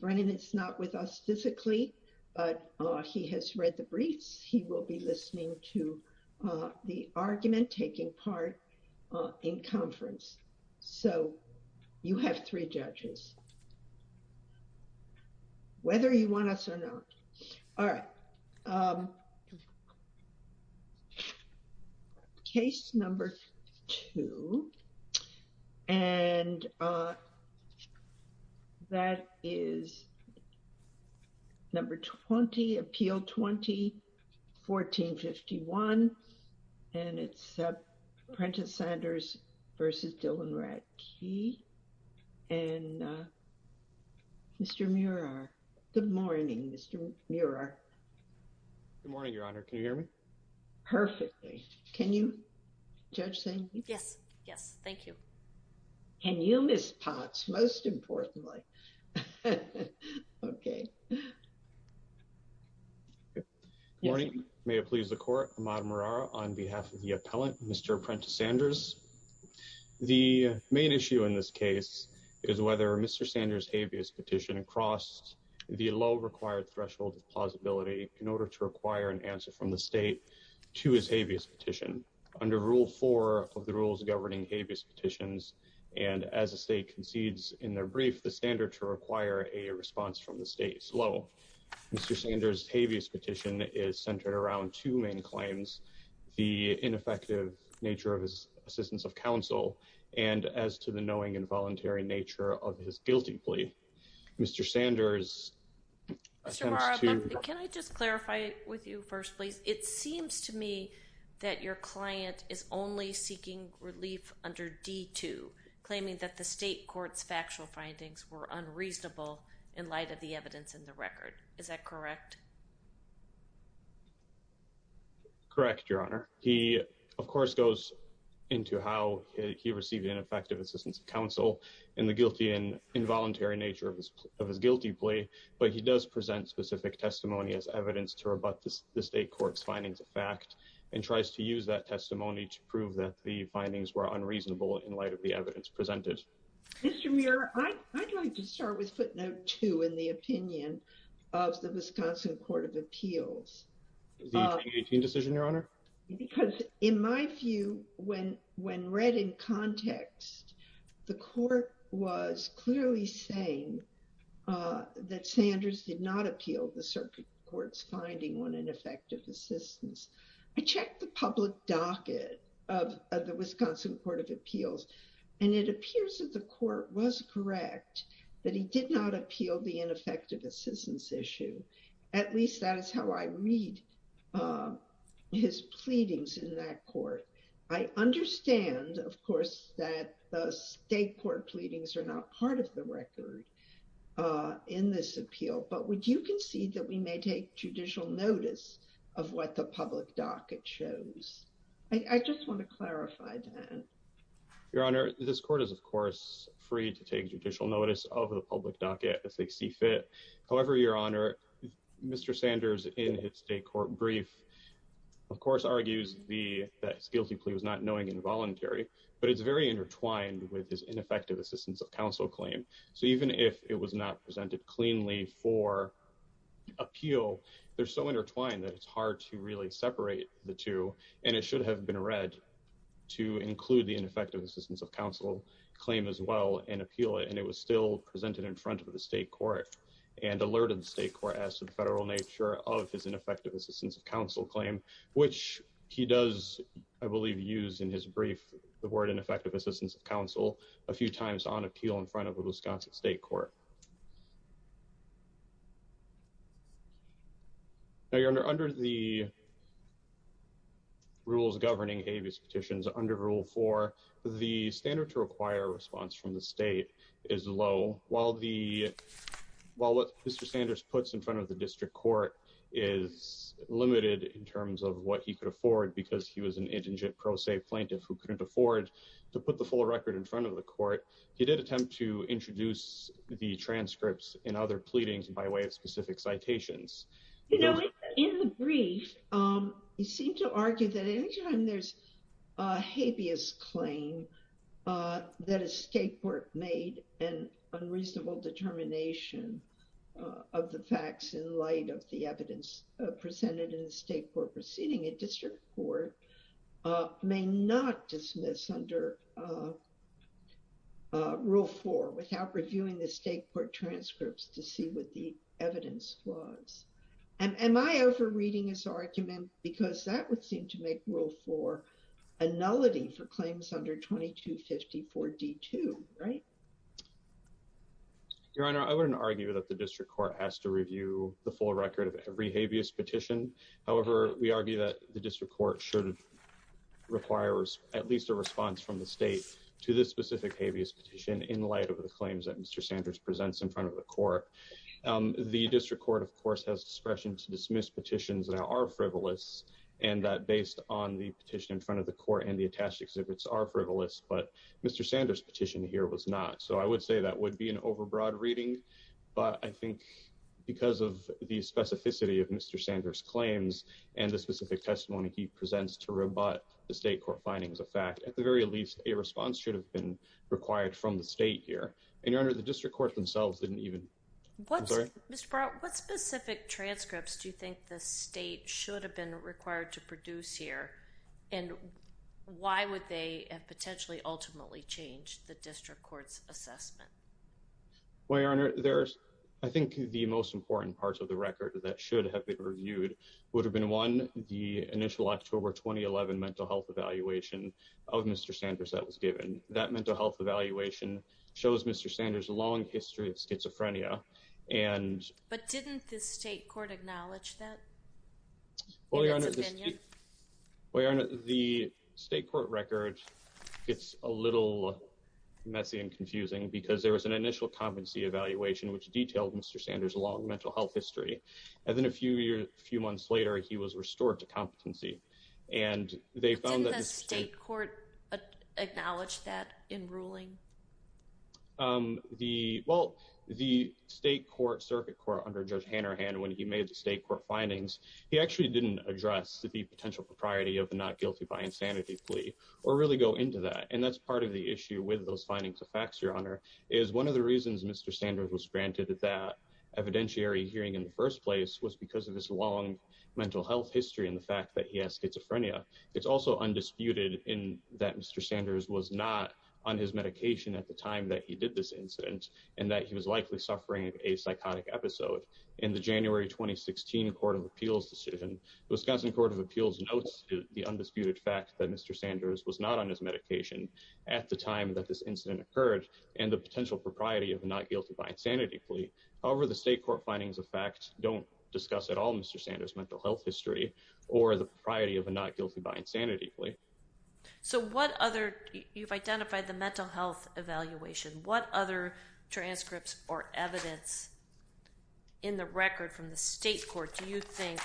Brennan is not with us physically, but he has read the briefs. He will be listening to the argument taking part in conference. So you have three judges. Whether you want to pass or not. All right. Case number two. And that is number 20, Appeal 20, 1451. And Mr. Muirer. Good morning, Your Honor. Can you hear me? Perfectly. Can you? Judge Singh? Yes. Yes. Thank you. And you, Ms. Potts, most importantly. Okay. Good morning. May it please the Court. Amada Murara on behalf of the appellant, Mr. Prentice Sanders. The main issue in this case is whether Mr. Sanders' habeas petition crossed the low-required threshold of plausibility in order to require an answer from the state to his habeas petition. Under Rule 4 of the Rules Governing Habeas Petitions, and as the state concedes in their brief, the standard to require a response from the state is low. Mr. Sanders' habeas petition is centered around two main claims. The ineffective nature of his assistance of counsel and as to the knowing involuntary nature of his guilty plea. Mr. Sanders' attempts to... Mr. Murara, can I just clarify with you first, please? It seems to me that your client is only seeking relief under D2, claiming that the state court's factual findings were unreasonable in light of the evidence in the record. Is that correct? Correct, Your Honor. He, of course, goes into how he received ineffective assistance of counsel and the guilty and involuntary nature of his guilty plea, but he does present specific testimony as evidence to rebut the state court's findings of fact and tries to use that testimony to prove that the findings were unreasonable in light of the evidence presented. Mr. Murara, I'd like to with footnote two in the opinion of the Wisconsin Court of Appeals. The 2018 decision, Your Honor? Because in my view, when read in context, the court was clearly saying that Sanders did not appeal the circuit court's finding on ineffective assistance. I checked the public docket of the that he did not appeal the ineffective assistance issue. At least that is how I read his pleadings in that court. I understand, of course, that the state court pleadings are not part of the record in this appeal, but would you concede that we may take judicial notice of what the public docket shows? I just want to clarify that. Your Honor, this court is, of course, free to take judicial notice of the public docket as they see fit. However, Your Honor, Mr. Sanders in his state court brief, of course, argues that his guilty plea was not knowing involuntary, but it's very intertwined with his ineffective assistance of counsel claim. So even if it was not presented cleanly for appeal, they're so intertwined that it's hard to really separate the two, and it should have been read to include the ineffective assistance of counsel claim as well and appeal it, and it was still presented in front of the state court and alerted the state court as to the federal nature of his ineffective assistance of counsel claim, which he does, I believe, use in his brief the word ineffective assistance of counsel a few times on appeal in front of the Wisconsin state court. Now, Your Honor, under the from the state is low. While what Mr. Sanders puts in front of the district court is limited in terms of what he could afford because he was an indigent pro se plaintiff who couldn't afford to put the full record in front of the court, he did attempt to introduce the transcripts and other pleadings by way of specific citations. You know, in the brief, he seemed to argue that anytime there's a habeas claim that a state court made an unreasonable determination of the facts in light of the evidence presented in the state court proceeding, a district court may not dismiss under Rule 4 without reviewing the state court transcripts to see what the evidence was. And am I over reading this argument because that would seem to make Rule 4 a nullity for claims under 2254 D2, right? Your Honor, I wouldn't argue that the district court has to review the full record of every habeas petition. However, we argue that the district court should require at least a response from the state to this specific habeas petition in light of the dismissed petitions that are frivolous and that based on the petition in front of the court and the attached exhibits are frivolous, but Mr. Sanders' petition here was not. So I would say that would be an overbroad reading, but I think because of the specificity of Mr. Sanders' claims and the specific testimony he presents to rebut the state court findings of fact, at the very least, a response should have been required from the state here. And Your Honor, the district court themselves didn't even. Mr. Barrett, what specific transcripts do you think the state should have been required to produce here and why would they have potentially ultimately changed the district court's assessment? Well, Your Honor, I think the most important parts of the record that should have been reviewed would have been one, the initial October 2011 mental health evaluation of Mr. Sanders that was given. That mental health evaluation shows Mr. Sanders' long history of schizophrenia and. But didn't the state court acknowledge that? Well, Your Honor, the state court record gets a little messy and confusing because there was an initial competency evaluation which detailed Mr. Sanders' long mental health history. And then a few years, a few months later, he was restored to competency and they found that. Did the state court acknowledge that in ruling? Um, the, well, the state court circuit court under Judge Hannerhan, when he made the state court findings, he actually didn't address the potential propriety of the not guilty by insanity plea or really go into that. And that's part of the issue with those findings of facts, Your Honor, is one of the reasons Mr. Sanders was granted that evidentiary hearing in the first place was because of his long mental health history and the fact that he has schizophrenia. It's also undisputed in that Mr. Sanders was not on his medication at the time that he did this incident and that he was likely suffering a psychotic episode. In the January 2016 Court of Appeals decision, the Wisconsin Court of Appeals notes the undisputed fact that Mr. Sanders was not on his medication at the time that this incident occurred and the potential propriety of not guilty by insanity plea. However, the state court findings of facts don't discuss at all Mr. Sanders' guilty by insanity plea. So what other, you've identified the mental health evaluation, what other transcripts or evidence in the record from the state court do you think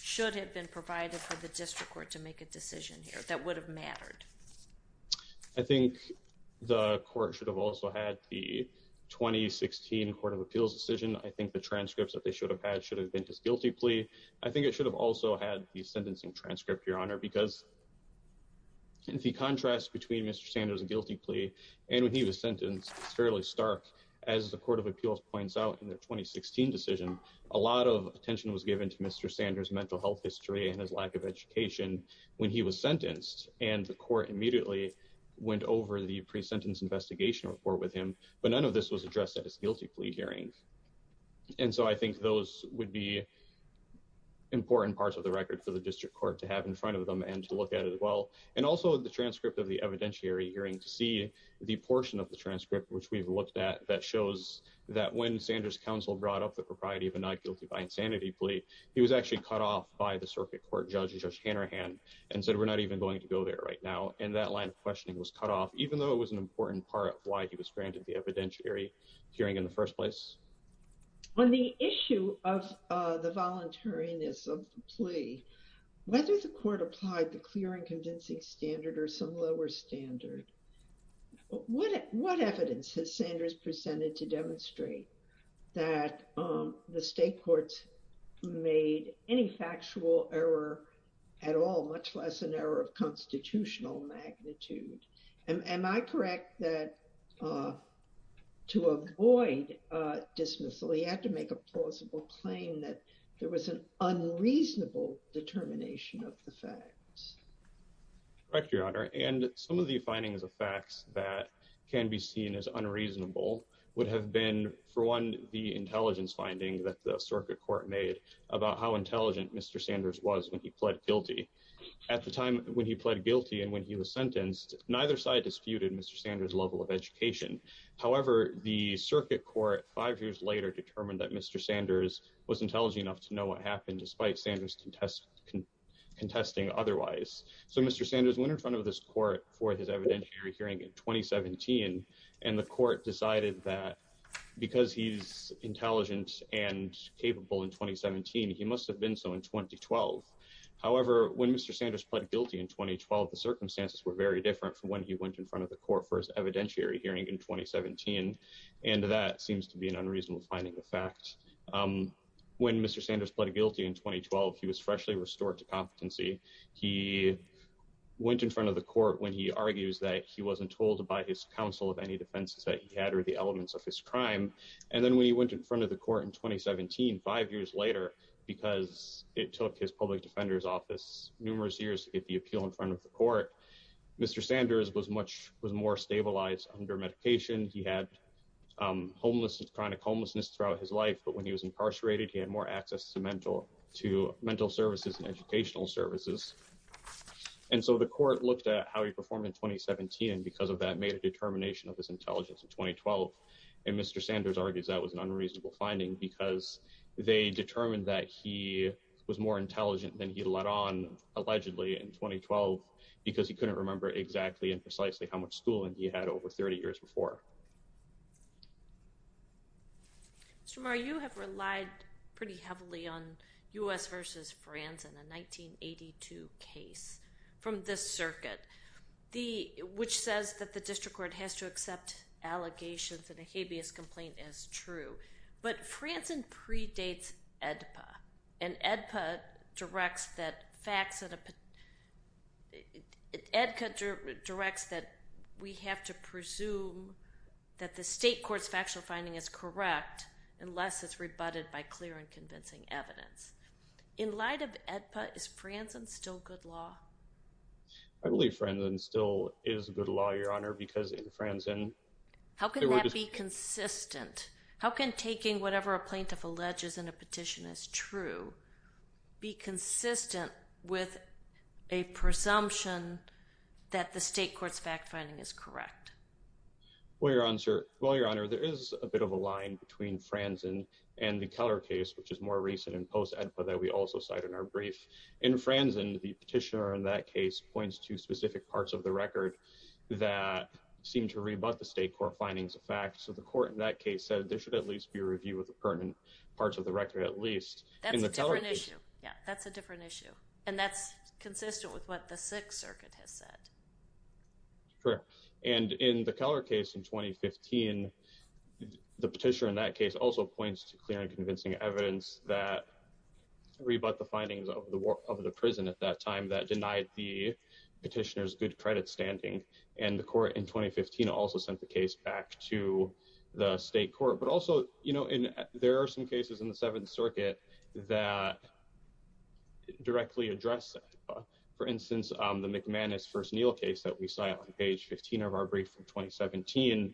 should have been provided for the district court to make a decision here that would have mattered? I think the court should have also had the 2016 Court of Appeals decision. I think the transcripts that they should have had should have been his guilty plea. I think it should have also had the sentencing transcript, Your Honor, because the contrast between Mr. Sanders' guilty plea and when he was sentenced is fairly stark. As the Court of Appeals points out in their 2016 decision, a lot of attention was given to Mr. Sanders' mental health history and his lack of education when he was sentenced and the court immediately went over the pre-sentence investigation report with him, but none of this was addressed at his guilty plea hearing. And so I think those would be important parts of the record for the district court to have in front of them and to look at as well. And also the transcript of the evidentiary hearing to see the portion of the transcript which we've looked at that shows that when Sanders' counsel brought up the propriety of a not guilty by insanity plea, he was actually cut off by the circuit court judge, Judge Hanrahan, and said, we're not even going to go there right now. And that line of questioning was cut off, even though it was an important part of why he was granted the evidentiary hearing in the first place. On the issue of the voluntariness of the plea, whether the court applied the clear and convincing standard or some lower standard, what evidence has Sanders presented to demonstrate that the state courts made any factual error at all, much less an error of constitutional magnitude? Am I correct that to avoid dismissal, he had to make a plausible claim that there was an unreasonable determination of the facts? Correct, Your Honor. And some of the findings of facts that can be seen as unreasonable would have been, for one, the intelligence finding that the circuit court made about how intelligent Mr. Sanders was when he pled guilty. At the time when he pled guilty and when he was sentenced, neither side disputed Mr. Sanders' level of education. However, the circuit court five years later determined that Mr. Sanders was intelligent enough to know what happened, despite Sanders contesting otherwise. So Mr. Sanders went in front of this court for his evidentiary hearing in 2017, and the court decided that because he's intelligent and capable in 2017, he must have been so in 2012. However, when Mr. Sanders pled guilty in 2012, the circumstances were very different from when he went in front of the court for his evidentiary hearing in 2017, and that seems to be an unreasonable finding of facts. When Mr. Sanders pled guilty in 2012, he was freshly restored to competency. He went in front of the court when he argues that he wasn't told by his counsel of any defenses that he had or the elements of his crime. And then when he went in front of the court in 2017, five years later, because it took his public defender's office numerous years to get the appeal in front of the court, Mr. Sanders was more stabilized under medication. He had chronic homelessness throughout his life, but when he was incarcerated, he had more access to mental services and educational services. And so the court looked at how he performed in 2017, and because of that made determination of his intelligence in 2012, and Mr. Sanders argues that was an unreasonable finding because they determined that he was more intelligent than he let on allegedly in 2012 because he couldn't remember exactly and precisely how much schooling he had over 30 years before. Mr. Marr, you have relied pretty heavily on U.S. versus France in a 1982 case from this circuit, which says that the district court has to accept allegations and a habeas complaint as true, but Franzen predates AEDPA, and AEDPA directs that facts that... AEDPA directs that we have to presume that the state court's factual finding is correct unless it's rebutted by clear and convincing evidence. In light of AEDPA, is Franzen still good law? I believe Franzen still is good law, Your Honor, because in Franzen... How can that be consistent? How can taking whatever a plaintiff alleges in a petition is true be consistent with a presumption that the state court's fact finding is correct? Well, Your Honor, there is a bit of a line between Franzen and the Keller case, which is more recent in post-AEDPA that we also cite in our brief. In Franzen, the petitioner in that case points to specific parts of the record that seem to rebut the state court findings of facts, so the court in that case said there should at least be a review of the pertinent parts of the record at least. That's a different issue. Yeah, that's a different issue, and that's consistent with what the Sixth Circuit has said. Correct. And in the Keller case in 2015, the petitioner in that case also points to clear convincing evidence that rebut the findings of the prison at that time that denied the petitioner's good credit standing, and the court in 2015 also sent the case back to the state court. But also, you know, there are some cases in the Seventh Circuit that directly address that. For instance, the McManus v. Neil case that we cite on page 15 of our brief from 2017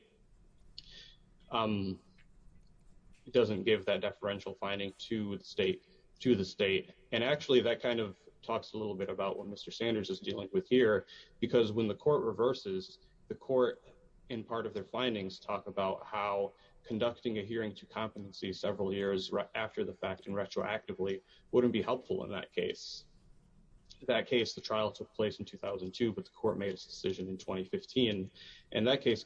doesn't give that deferential finding to the state. And actually, that kind of talks a little bit about what Mr. Sanders is dealing with here, because when the court reverses, the court in part of their findings talk about how conducting a hearing to competency several years after the fact and retroactively wouldn't be helpful in that case. In that case, the trial took place in 2002, but the court made its decision in 2015, and that case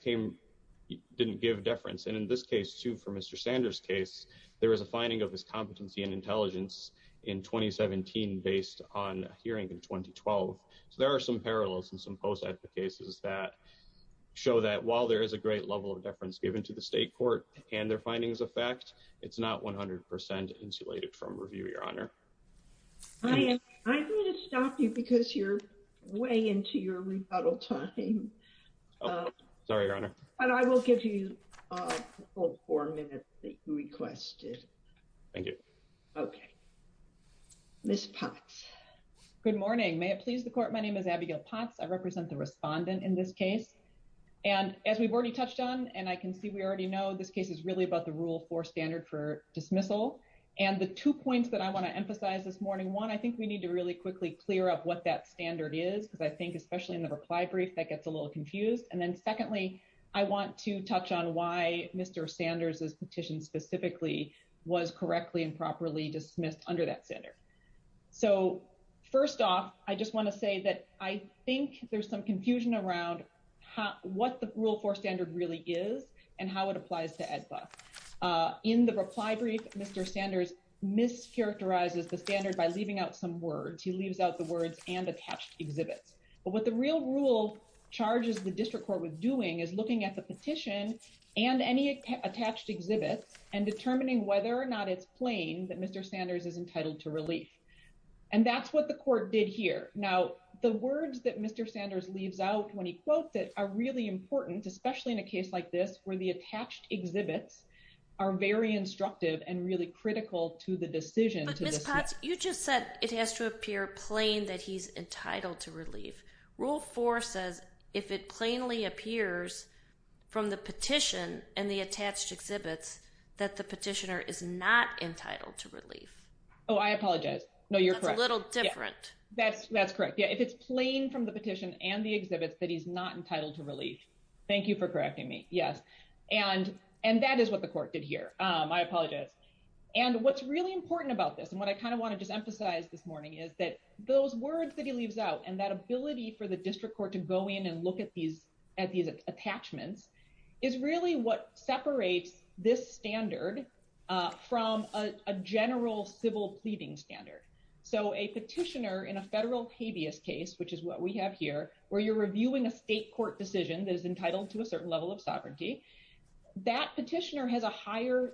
didn't give deference. And in this case, too, for Mr. Sanders' case, there is a finding of his competency and intelligence in 2017 based on a hearing in 2012. So there are some parallels and some post-ethnic cases that show that while there is a great level of deference given to the state court and their findings of fact, it's not 100% insulated from review, Your Honor. I'm going to stop you because you're way into your rebuttal time. Sorry, Your Honor. But I will give you the full four minutes that you requested. Thank you. Okay. Ms. Potts. Good morning. May it please the court, my name is Abigail Potts. I represent the respondent in this case. And as we've already touched on, and I can see we already know, this case is really about the one, I think we need to really quickly clear up what that standard is, because I think, especially in the reply brief, that gets a little confused. And then secondly, I want to touch on why Mr. Sanders' petition specifically was correctly and properly dismissed under that standard. So first off, I just want to say that I think there's some confusion around what the Rule 4 standard really is, and how it applies to EdBus. In the reply brief, Mr. Sanders mischaracterizes the standard by leaving out some words. He leaves out the words and attached exhibits. But what the real rule charges the district court with doing is looking at the petition and any attached exhibits and determining whether or not it's plain that Mr. Sanders is entitled to relief. And that's what the court did here. Now, the words that Mr. Sanders leaves out when he quotes it are really important, especially in a case like this, where the attached exhibits are very instructive and really critical to the decision to dismiss. But Ms. Potts, you just said it has to appear plain that he's entitled to relief. Rule 4 says if it plainly appears from the petition and the attached exhibits, that the petitioner is not entitled to relief. Oh, I apologize. No, you're correct. That's a little different. That's correct. Yeah, if it's plain from the petition and the exhibits that he's not entitled to relief. Thank you for correcting me. Yes. And that is what the court did here. I apologize. And what's really important about this and what I kind of want to just emphasize this morning is that those words that he leaves out and that ability for the district court to go in and look at these attachments is really what separates this standard from a general civil pleading standard. So a petitioner in a federal habeas case, which is what we have here, where you're a court decision that is entitled to a certain level of sovereignty, that petitioner has a higher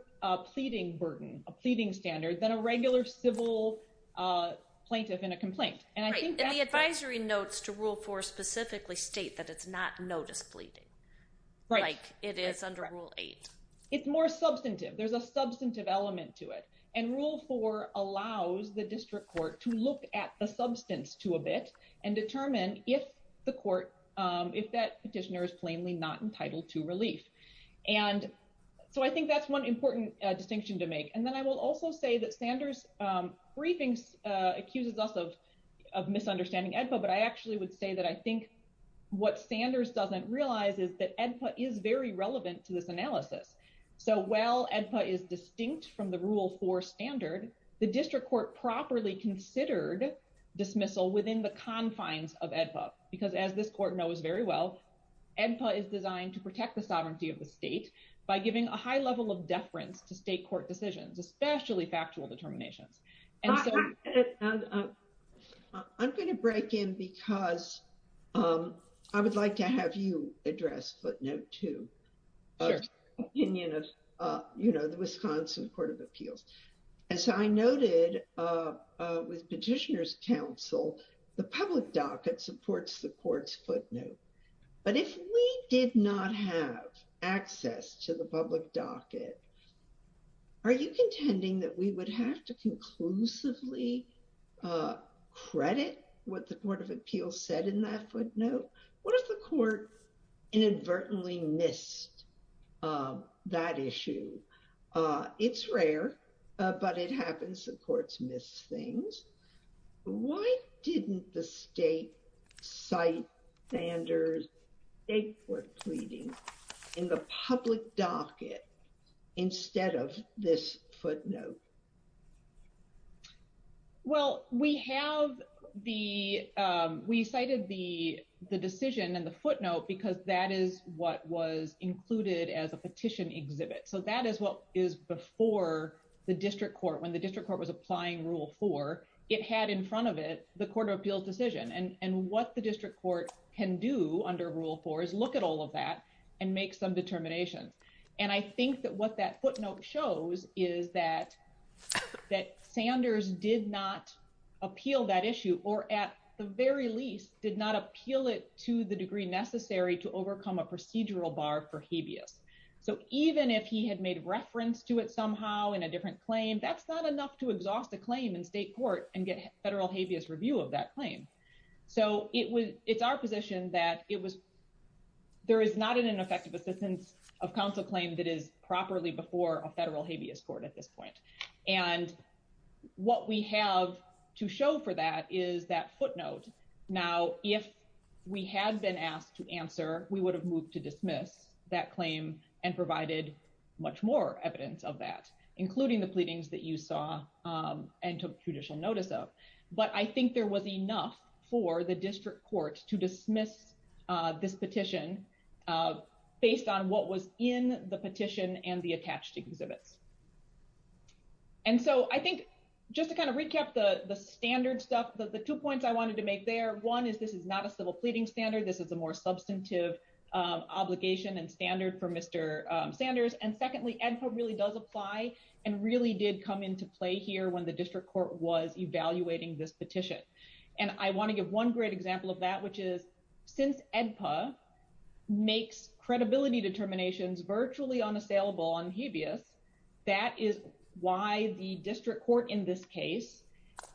pleading burden, a pleading standard than a regular civil plaintiff in a complaint. And the advisory notes to Rule 4 specifically state that it's not notice pleading, like it is under Rule 8. It's more substantive. There's a substantive element to it. And Rule 4 allows the district court to look at the substance to a bit and determine if the court, if that petitioner is plainly not entitled to relief. And so I think that's one important distinction to make. And then I will also say that Sanders' briefing accuses us of misunderstanding AEDPA, but I actually would say that I think what Sanders doesn't realize is that AEDPA is very relevant to this analysis. So while AEDPA is distinct from the Rule 4 standard, the district court properly considered dismissal within the confines of AEDPA, because as this court knows very well, AEDPA is designed to protect the sovereignty of the state by giving a high level of deference to state court decisions, especially factual determinations. I'm going to break in because I would like to have you address footnote two. You know, the Wisconsin Court of Appeals. As I noted, with petitioners' counsel, the public docket supports the court's footnote. But if we did not have access to the public docket, are you contending that we would have to conclusively credit what the Court of Appeals said in that footnote? What if the court inadvertently missed that issue? It's rare, but it happens. The courts miss things. Why didn't the state cite Sanders' state court pleading in the public docket instead of this footnote? Well, we have the, we cited the decision and the footnote because that is what was included as a the district court. When the district court was applying rule four, it had in front of it, the Court of Appeals decision. And what the district court can do under rule four is look at all of that and make some determination. And I think that what that footnote shows is that that Sanders did not appeal that issue or at the very least did not appeal it to the degree necessary to overcome a procedural bar for habeas. So even if he had made reference to it somehow in a different claim, that's not enough to exhaust a claim in state court and get federal habeas review of that claim. So it was, it's our position that it was, there is not an ineffective assistance of counsel claim that is properly before a federal habeas court at this point. And what we have to show for that is that footnote. Now, if we had been asked to answer, we would have moved to dismiss that claim and provided much more evidence of that, including the pleadings that you saw and took judicial notice of. But I think there was enough for the district court to dismiss this petition based on what was in the petition and the attached exhibits. And so I think just to kind of recap the standard stuff, the two points I wanted to make there. One is this is not a civil obligation and standard for Mr. Sanders. And secondly, EDPA really does apply and really did come into play here when the district court was evaluating this petition. And I want to give one great example of that, which is since EDPA makes credibility determinations virtually unassailable on habeas, that is why the district court in this case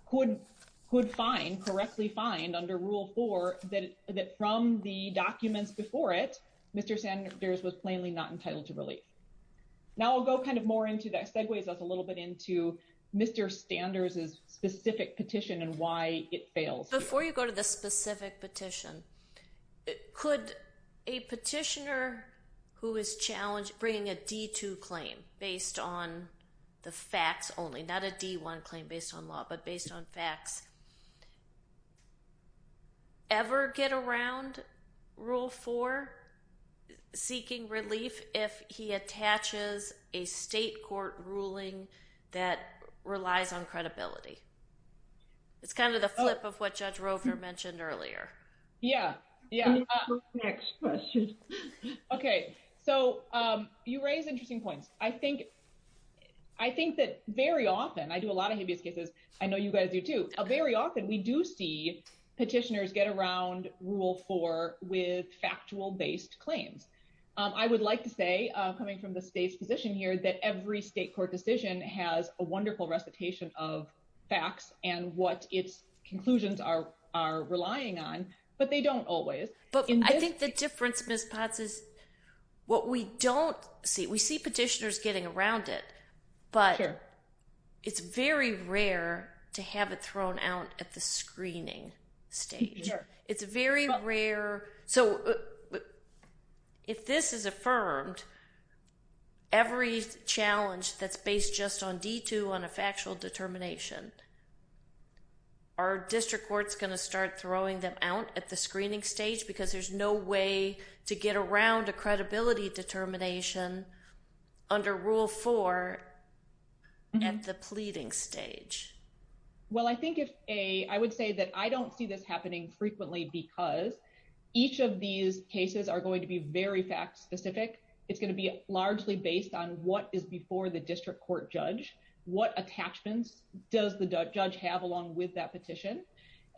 could find, correctly find under rule four, that from the documents before it, Mr. Sanders was plainly not entitled to relief. Now I'll go kind of more into that, segues us a little bit into Mr. Sanders's specific petition and why it fails. Before you go to the specific petition, could a petitioner who is challenged bringing a D2 claim based on the facts only, not a D1 claim based on law, based on facts, ever get around rule four seeking relief if he attaches a state court ruling that relies on credibility? It's kind of the flip of what Judge Roever mentioned earlier. Yeah. Yeah. Next question. Okay. So you raise interesting points. I think you guys do too. Very often we do see petitioners get around rule four with factual based claims. I would like to say, coming from the state's position here, that every state court decision has a wonderful recitation of facts and what its conclusions are relying on, but they don't always. But I think the difference, Ms. Potts, is what we don't see. We see petitioners getting around it, but it's very rare to have it thrown out at the screening stage. It's very rare. So if this is affirmed, every challenge that's based just on D2 on a factual determination, are district courts going to start throwing them out at the screening stage because there's no way to get around a credibility determination under rule four at the pleading stage? Well, I would say that I don't see this happening frequently because each of these cases are going to be very fact specific. It's going to be largely based on what is before the district court judge, what attachments does the judge have along with that petition?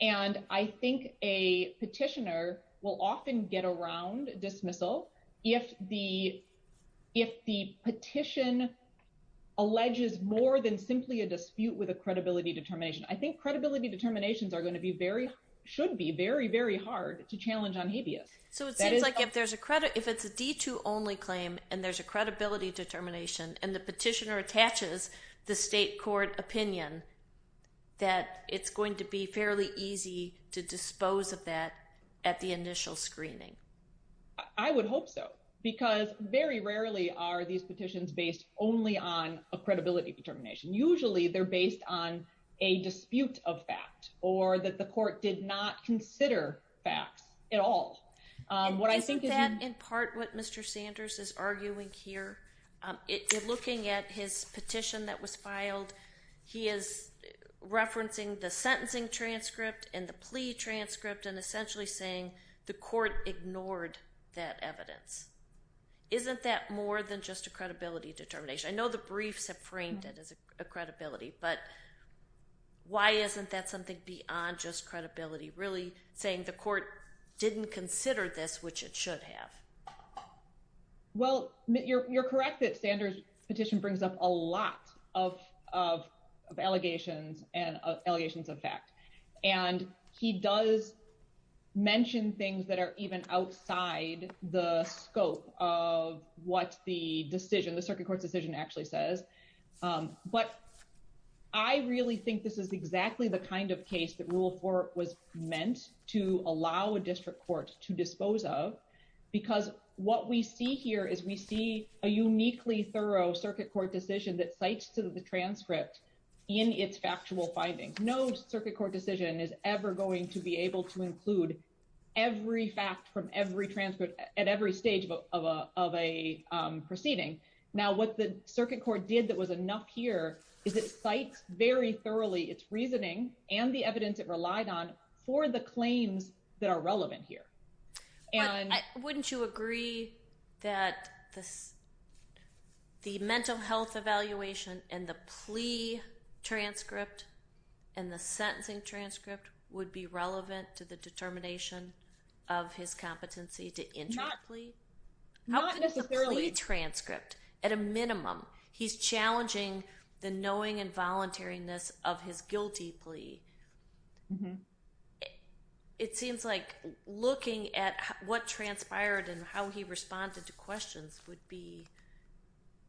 And I think a petitioner will often get around dismissal if the petition alleges more than simply a dispute with a credibility determination. I think credibility determinations are going to be very, should be very, very hard to challenge on habeas. So it seems like if there's a credit, if it's a D2 only claim and there's a credibility determination and the petitioner attaches the state court opinion, that it's going to be fairly easy to dispose of that at the initial screening. I would hope so because very rarely are these petitions based only on a credibility determination. Usually they're based on a dispute of fact or that the court did not consider facts at all. Isn't that in part what Mr. Sanders is arguing here? Looking at his petition that was filed, he is referencing the sentencing transcript and the plea transcript and essentially saying the court ignored that evidence. Isn't that more than just a credibility determination? I know the briefs have framed it as a credibility, but why isn't that something beyond just credibility? Really saying the court didn't consider this, which it should have. Well, you're correct that Sanders petition brings up a lot of allegations and allegations of fact. And he does mention things that are even outside the scope of what the decision, the circuit court's decision actually says. But I really think this is exactly the kind of case that Rule 4 was what we see here is we see a uniquely thorough circuit court decision that cites to the transcript in its factual findings. No circuit court decision is ever going to be able to include every fact from every transcript at every stage of a proceeding. Now, what the circuit court did that was enough here is it cites very thoroughly its reasoning and the evidence it relied on for the claims that are relevant here. Wouldn't you agree that the mental health evaluation and the plea transcript and the sentencing transcript would be relevant to the determination of his competency to enter a plea? Not necessarily. How could the plea transcript at a minimum, he's challenging the knowing and voluntariness of his guilty plea. It seems like looking at what transpired and how he responded to questions would be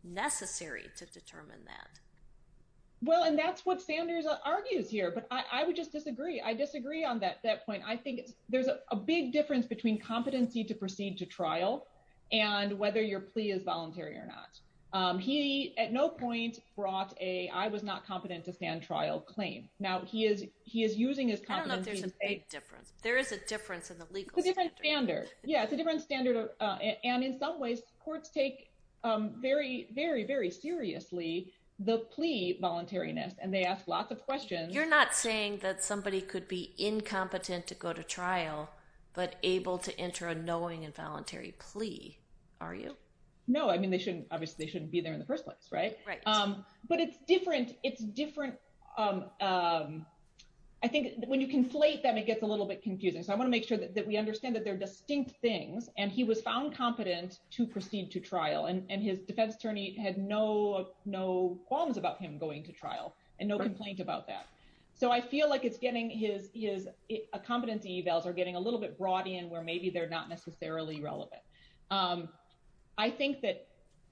necessary to determine that. Well, and that's what Sanders argues here. But I would just disagree. I disagree on that point. I think there's a big difference between competency to proceed to trial and whether your plea is voluntary or not. He at no point brought a I was not competent to stand trial claim. Now, he is using his competency. I don't know if there's a big difference. There is a difference in the legal standard. It's a different standard. Yeah, it's a different standard. And in some ways, courts take very, very, very seriously the plea voluntariness. And they ask lots of questions. You're not saying that somebody could be incompetent to go to trial but able to enter a knowing and voluntary plea, are you? No, I mean, they shouldn't. Obviously, shouldn't be there in the first place. But it's different. I think when you conflate them, it gets a little bit confusing. So I want to make sure that we understand that they're distinct things. And he was found competent to proceed to trial. And his defense attorney had no qualms about him going to trial and no complaint about that. So I feel like it's getting his competency evals are getting a little bit brought in where maybe they're not necessarily relevant. I think that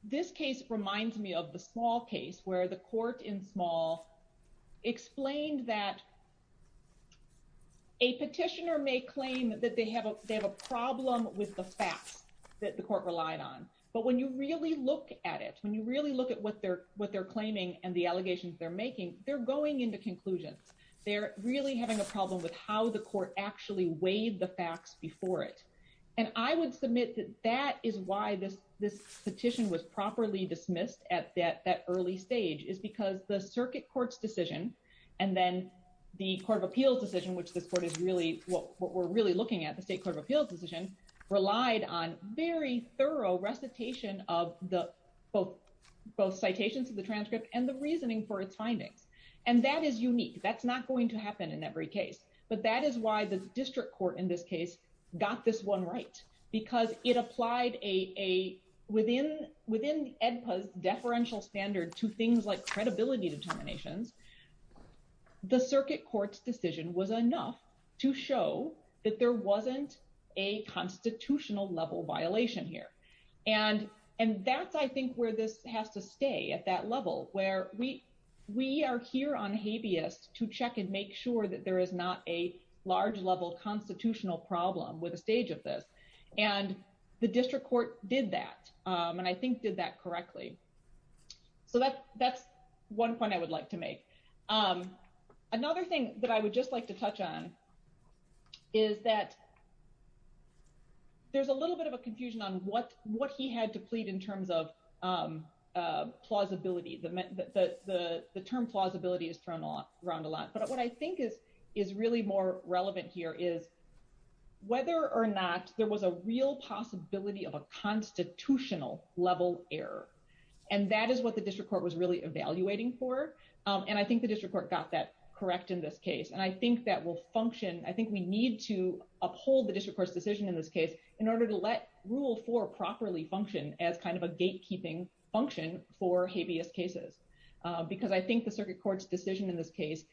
this case reminds me of the small case where the court in small explained that a petitioner may claim that they have a problem with the facts that the court relied on. But when you really look at it, when you really look at what they're claiming and the allegations they're making, they're going into conclusions. They're really having a problem with how the court actually weighed the facts before it. And I would submit that that is why this petition was properly dismissed at that early stage is because the circuit court's decision, and then the court of appeals decision, which this court is really, what we're really looking at, the state court of appeals decision, relied on very thorough recitation of both citations of the transcript and the reasoning for its findings. And that is unique. That's not going to happen in every case. But that is why the district court in this case got this one right, because it applied within the EDPA's deferential standard to things like credibility determinations. The circuit court's decision was enough to show that there wasn't a constitutional level violation here. And that's, I think, where this has to stay at that level, where we are here on habeas to check and make sure that there is not a large level constitutional problem with a stage of this. And the district court did that, and I think did that correctly. So that's one point I would like to make. Another thing that I would just like to touch on is that there's a little bit of a confusion on what he had to plead in terms of plausibility. The term plausibility is thrown around a lot. But what I think is really more relevant here is whether or not there was a real possibility of a constitutional level error. And that is what the district court was really evaluating for. And I think the district court got that correct in this case. And I think that will function. I think we need to uphold the district court's decision in this case in order to let Rule 4 properly function as kind of a gatekeeping function for habeas cases. Because I think the case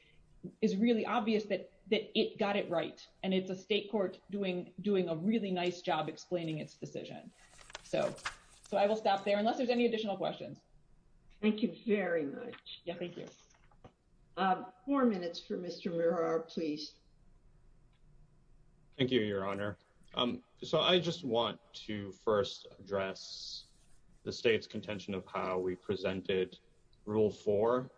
is really obvious that it got it right. And it's a state court doing a really nice job explaining its decision. So I will stop there, unless there's any additional questions. Thank you very much. Yeah, thank you. Four minutes for Mr. Mirar, please. Thank you, Your Honor. So I just want to first address the state's contention of how we presented Rule 4.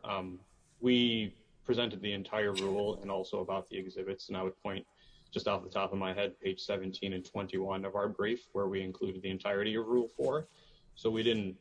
We presented the entire rule and also about the exhibits. And I would point just off the top of my head, page 17 and 21 of our brief, where we included the entirety of Rule 4. So we didn't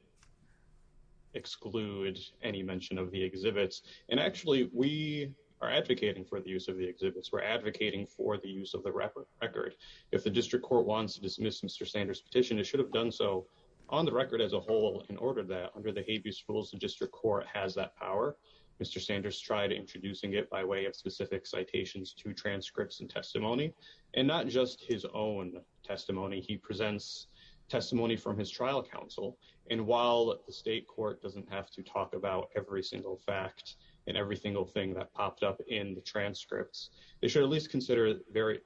exclude any mention of the exhibits. And actually, we are advocating for the use of the exhibits. We're advocating for the use of the record. If the district court wants to dismiss Mr. Sanders' petition, it should have done so on the record as a whole in order that under the rules, the district court has that power. Mr. Sanders tried introducing it by way of specific citations to transcripts and testimony. And not just his own testimony, he presents testimony from his trial counsel. And while the state court doesn't have to talk about every single fact, and every single thing that popped up in the transcripts, they should at least consider very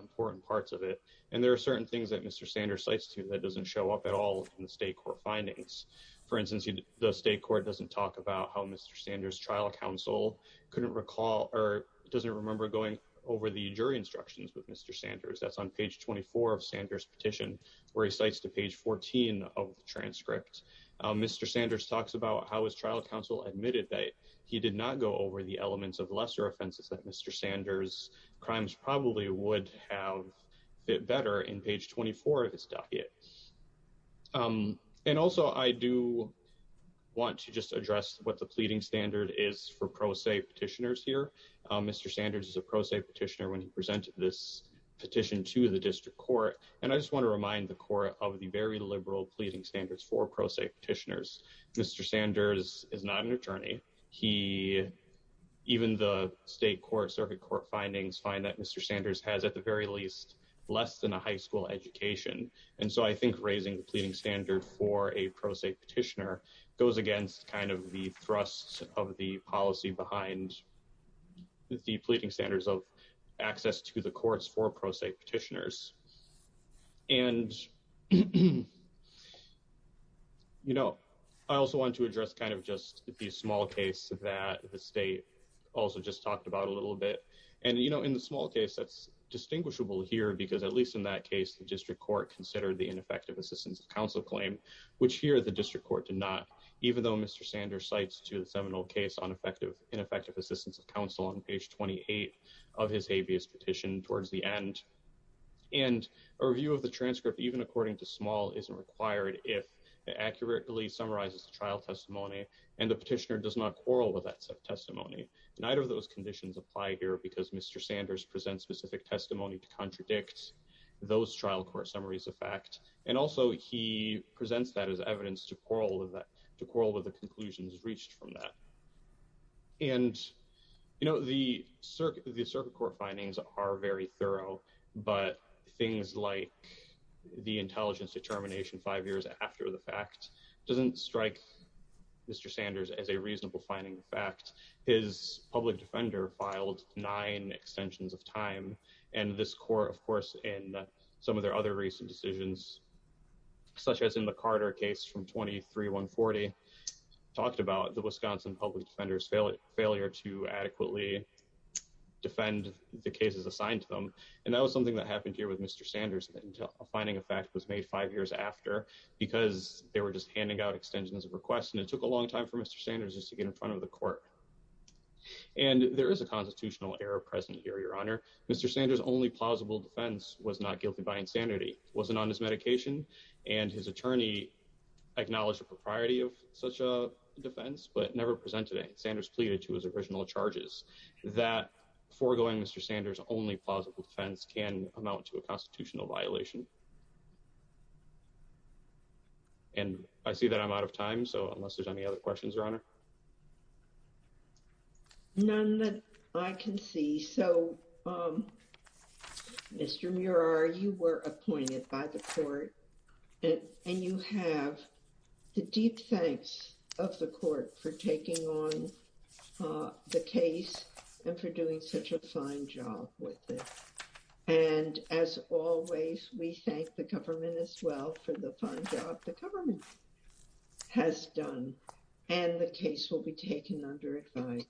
important parts of it. And there are certain things that Mr. Sanders cites to that doesn't show up at all in the state court findings. For instance, the state court doesn't talk about how Mr. Sanders' trial counsel couldn't recall or doesn't remember going over the jury instructions with Mr. Sanders. That's on page 24 of Sanders' petition, where he cites to page 14 of the transcript. Mr. Sanders talks about how his trial counsel admitted that he did not go over the elements of lesser offenses that Mr. Sanders' crimes probably would have fit better in page 24 of his petition. And also, I do want to just address what the pleading standard is for pro se petitioners here. Mr. Sanders is a pro se petitioner when he presented this petition to the district court. And I just want to remind the court of the very liberal pleading standards for pro se petitioners. Mr. Sanders is not an attorney. He, even the state court, circuit court findings, find that Mr. Sanders has at the very least less than a high school education. And so I think raising the pleading standard for a pro se petitioner goes against kind of the thrusts of the policy behind the pleading standards of access to the courts for pro se petitioners. And, you know, I also want to address kind of just the small case that the state also just talked about a little bit. And, you know, in the small case, that's distinguishable here, because at least in that case, the district court considered the ineffective assistance of counsel claim, which here the district court did not, even though Mr. Sanders cites to the seminal case on ineffective assistance of counsel on page 28 of his habeas petition towards the end. And a review of the transcript, even according to small, isn't required if it accurately summarizes the trial testimony and the petitioner does not quarrel with that testimony. Neither of specific testimony to contradict those trial court summaries of fact. And also he presents that as evidence to quarrel with that, to quarrel with the conclusions reached from that. And, you know, the circuit, the circuit court findings are very thorough, but things like the intelligence determination five years after the fact doesn't strike Mr. Sanders as a reasonable finding. In fact, his public defender filed nine extensions of time. And this court, of course, and some of their other recent decisions, such as in the Carter case from 23 140, talked about the Wisconsin public defender's failure to adequately defend the cases assigned to them. And that was something that happened here with Mr. Sanders until a finding of fact was made five years after, because they were just handing out extensions of request. And it took a court. And there is a constitutional error present here. Your honor, Mr. Sanders, only plausible defense was not guilty by insanity, wasn't on his medication. And his attorney acknowledged the propriety of such a defense, but never presented it. Sanders pleaded to his original charges that foregoing Mr. Sanders only plausible defense can amount to a constitutional violation. And I see that I'm out of time. So unless there's any other questions, your honor. None that I can see. So, Mr. Murar, you were appointed by the court, and you have the deep thanks of the court for taking on the case and for doing such a fine job with it. And as always, we thank the government as well for the fine job the government has done, and the case will be taken under advice.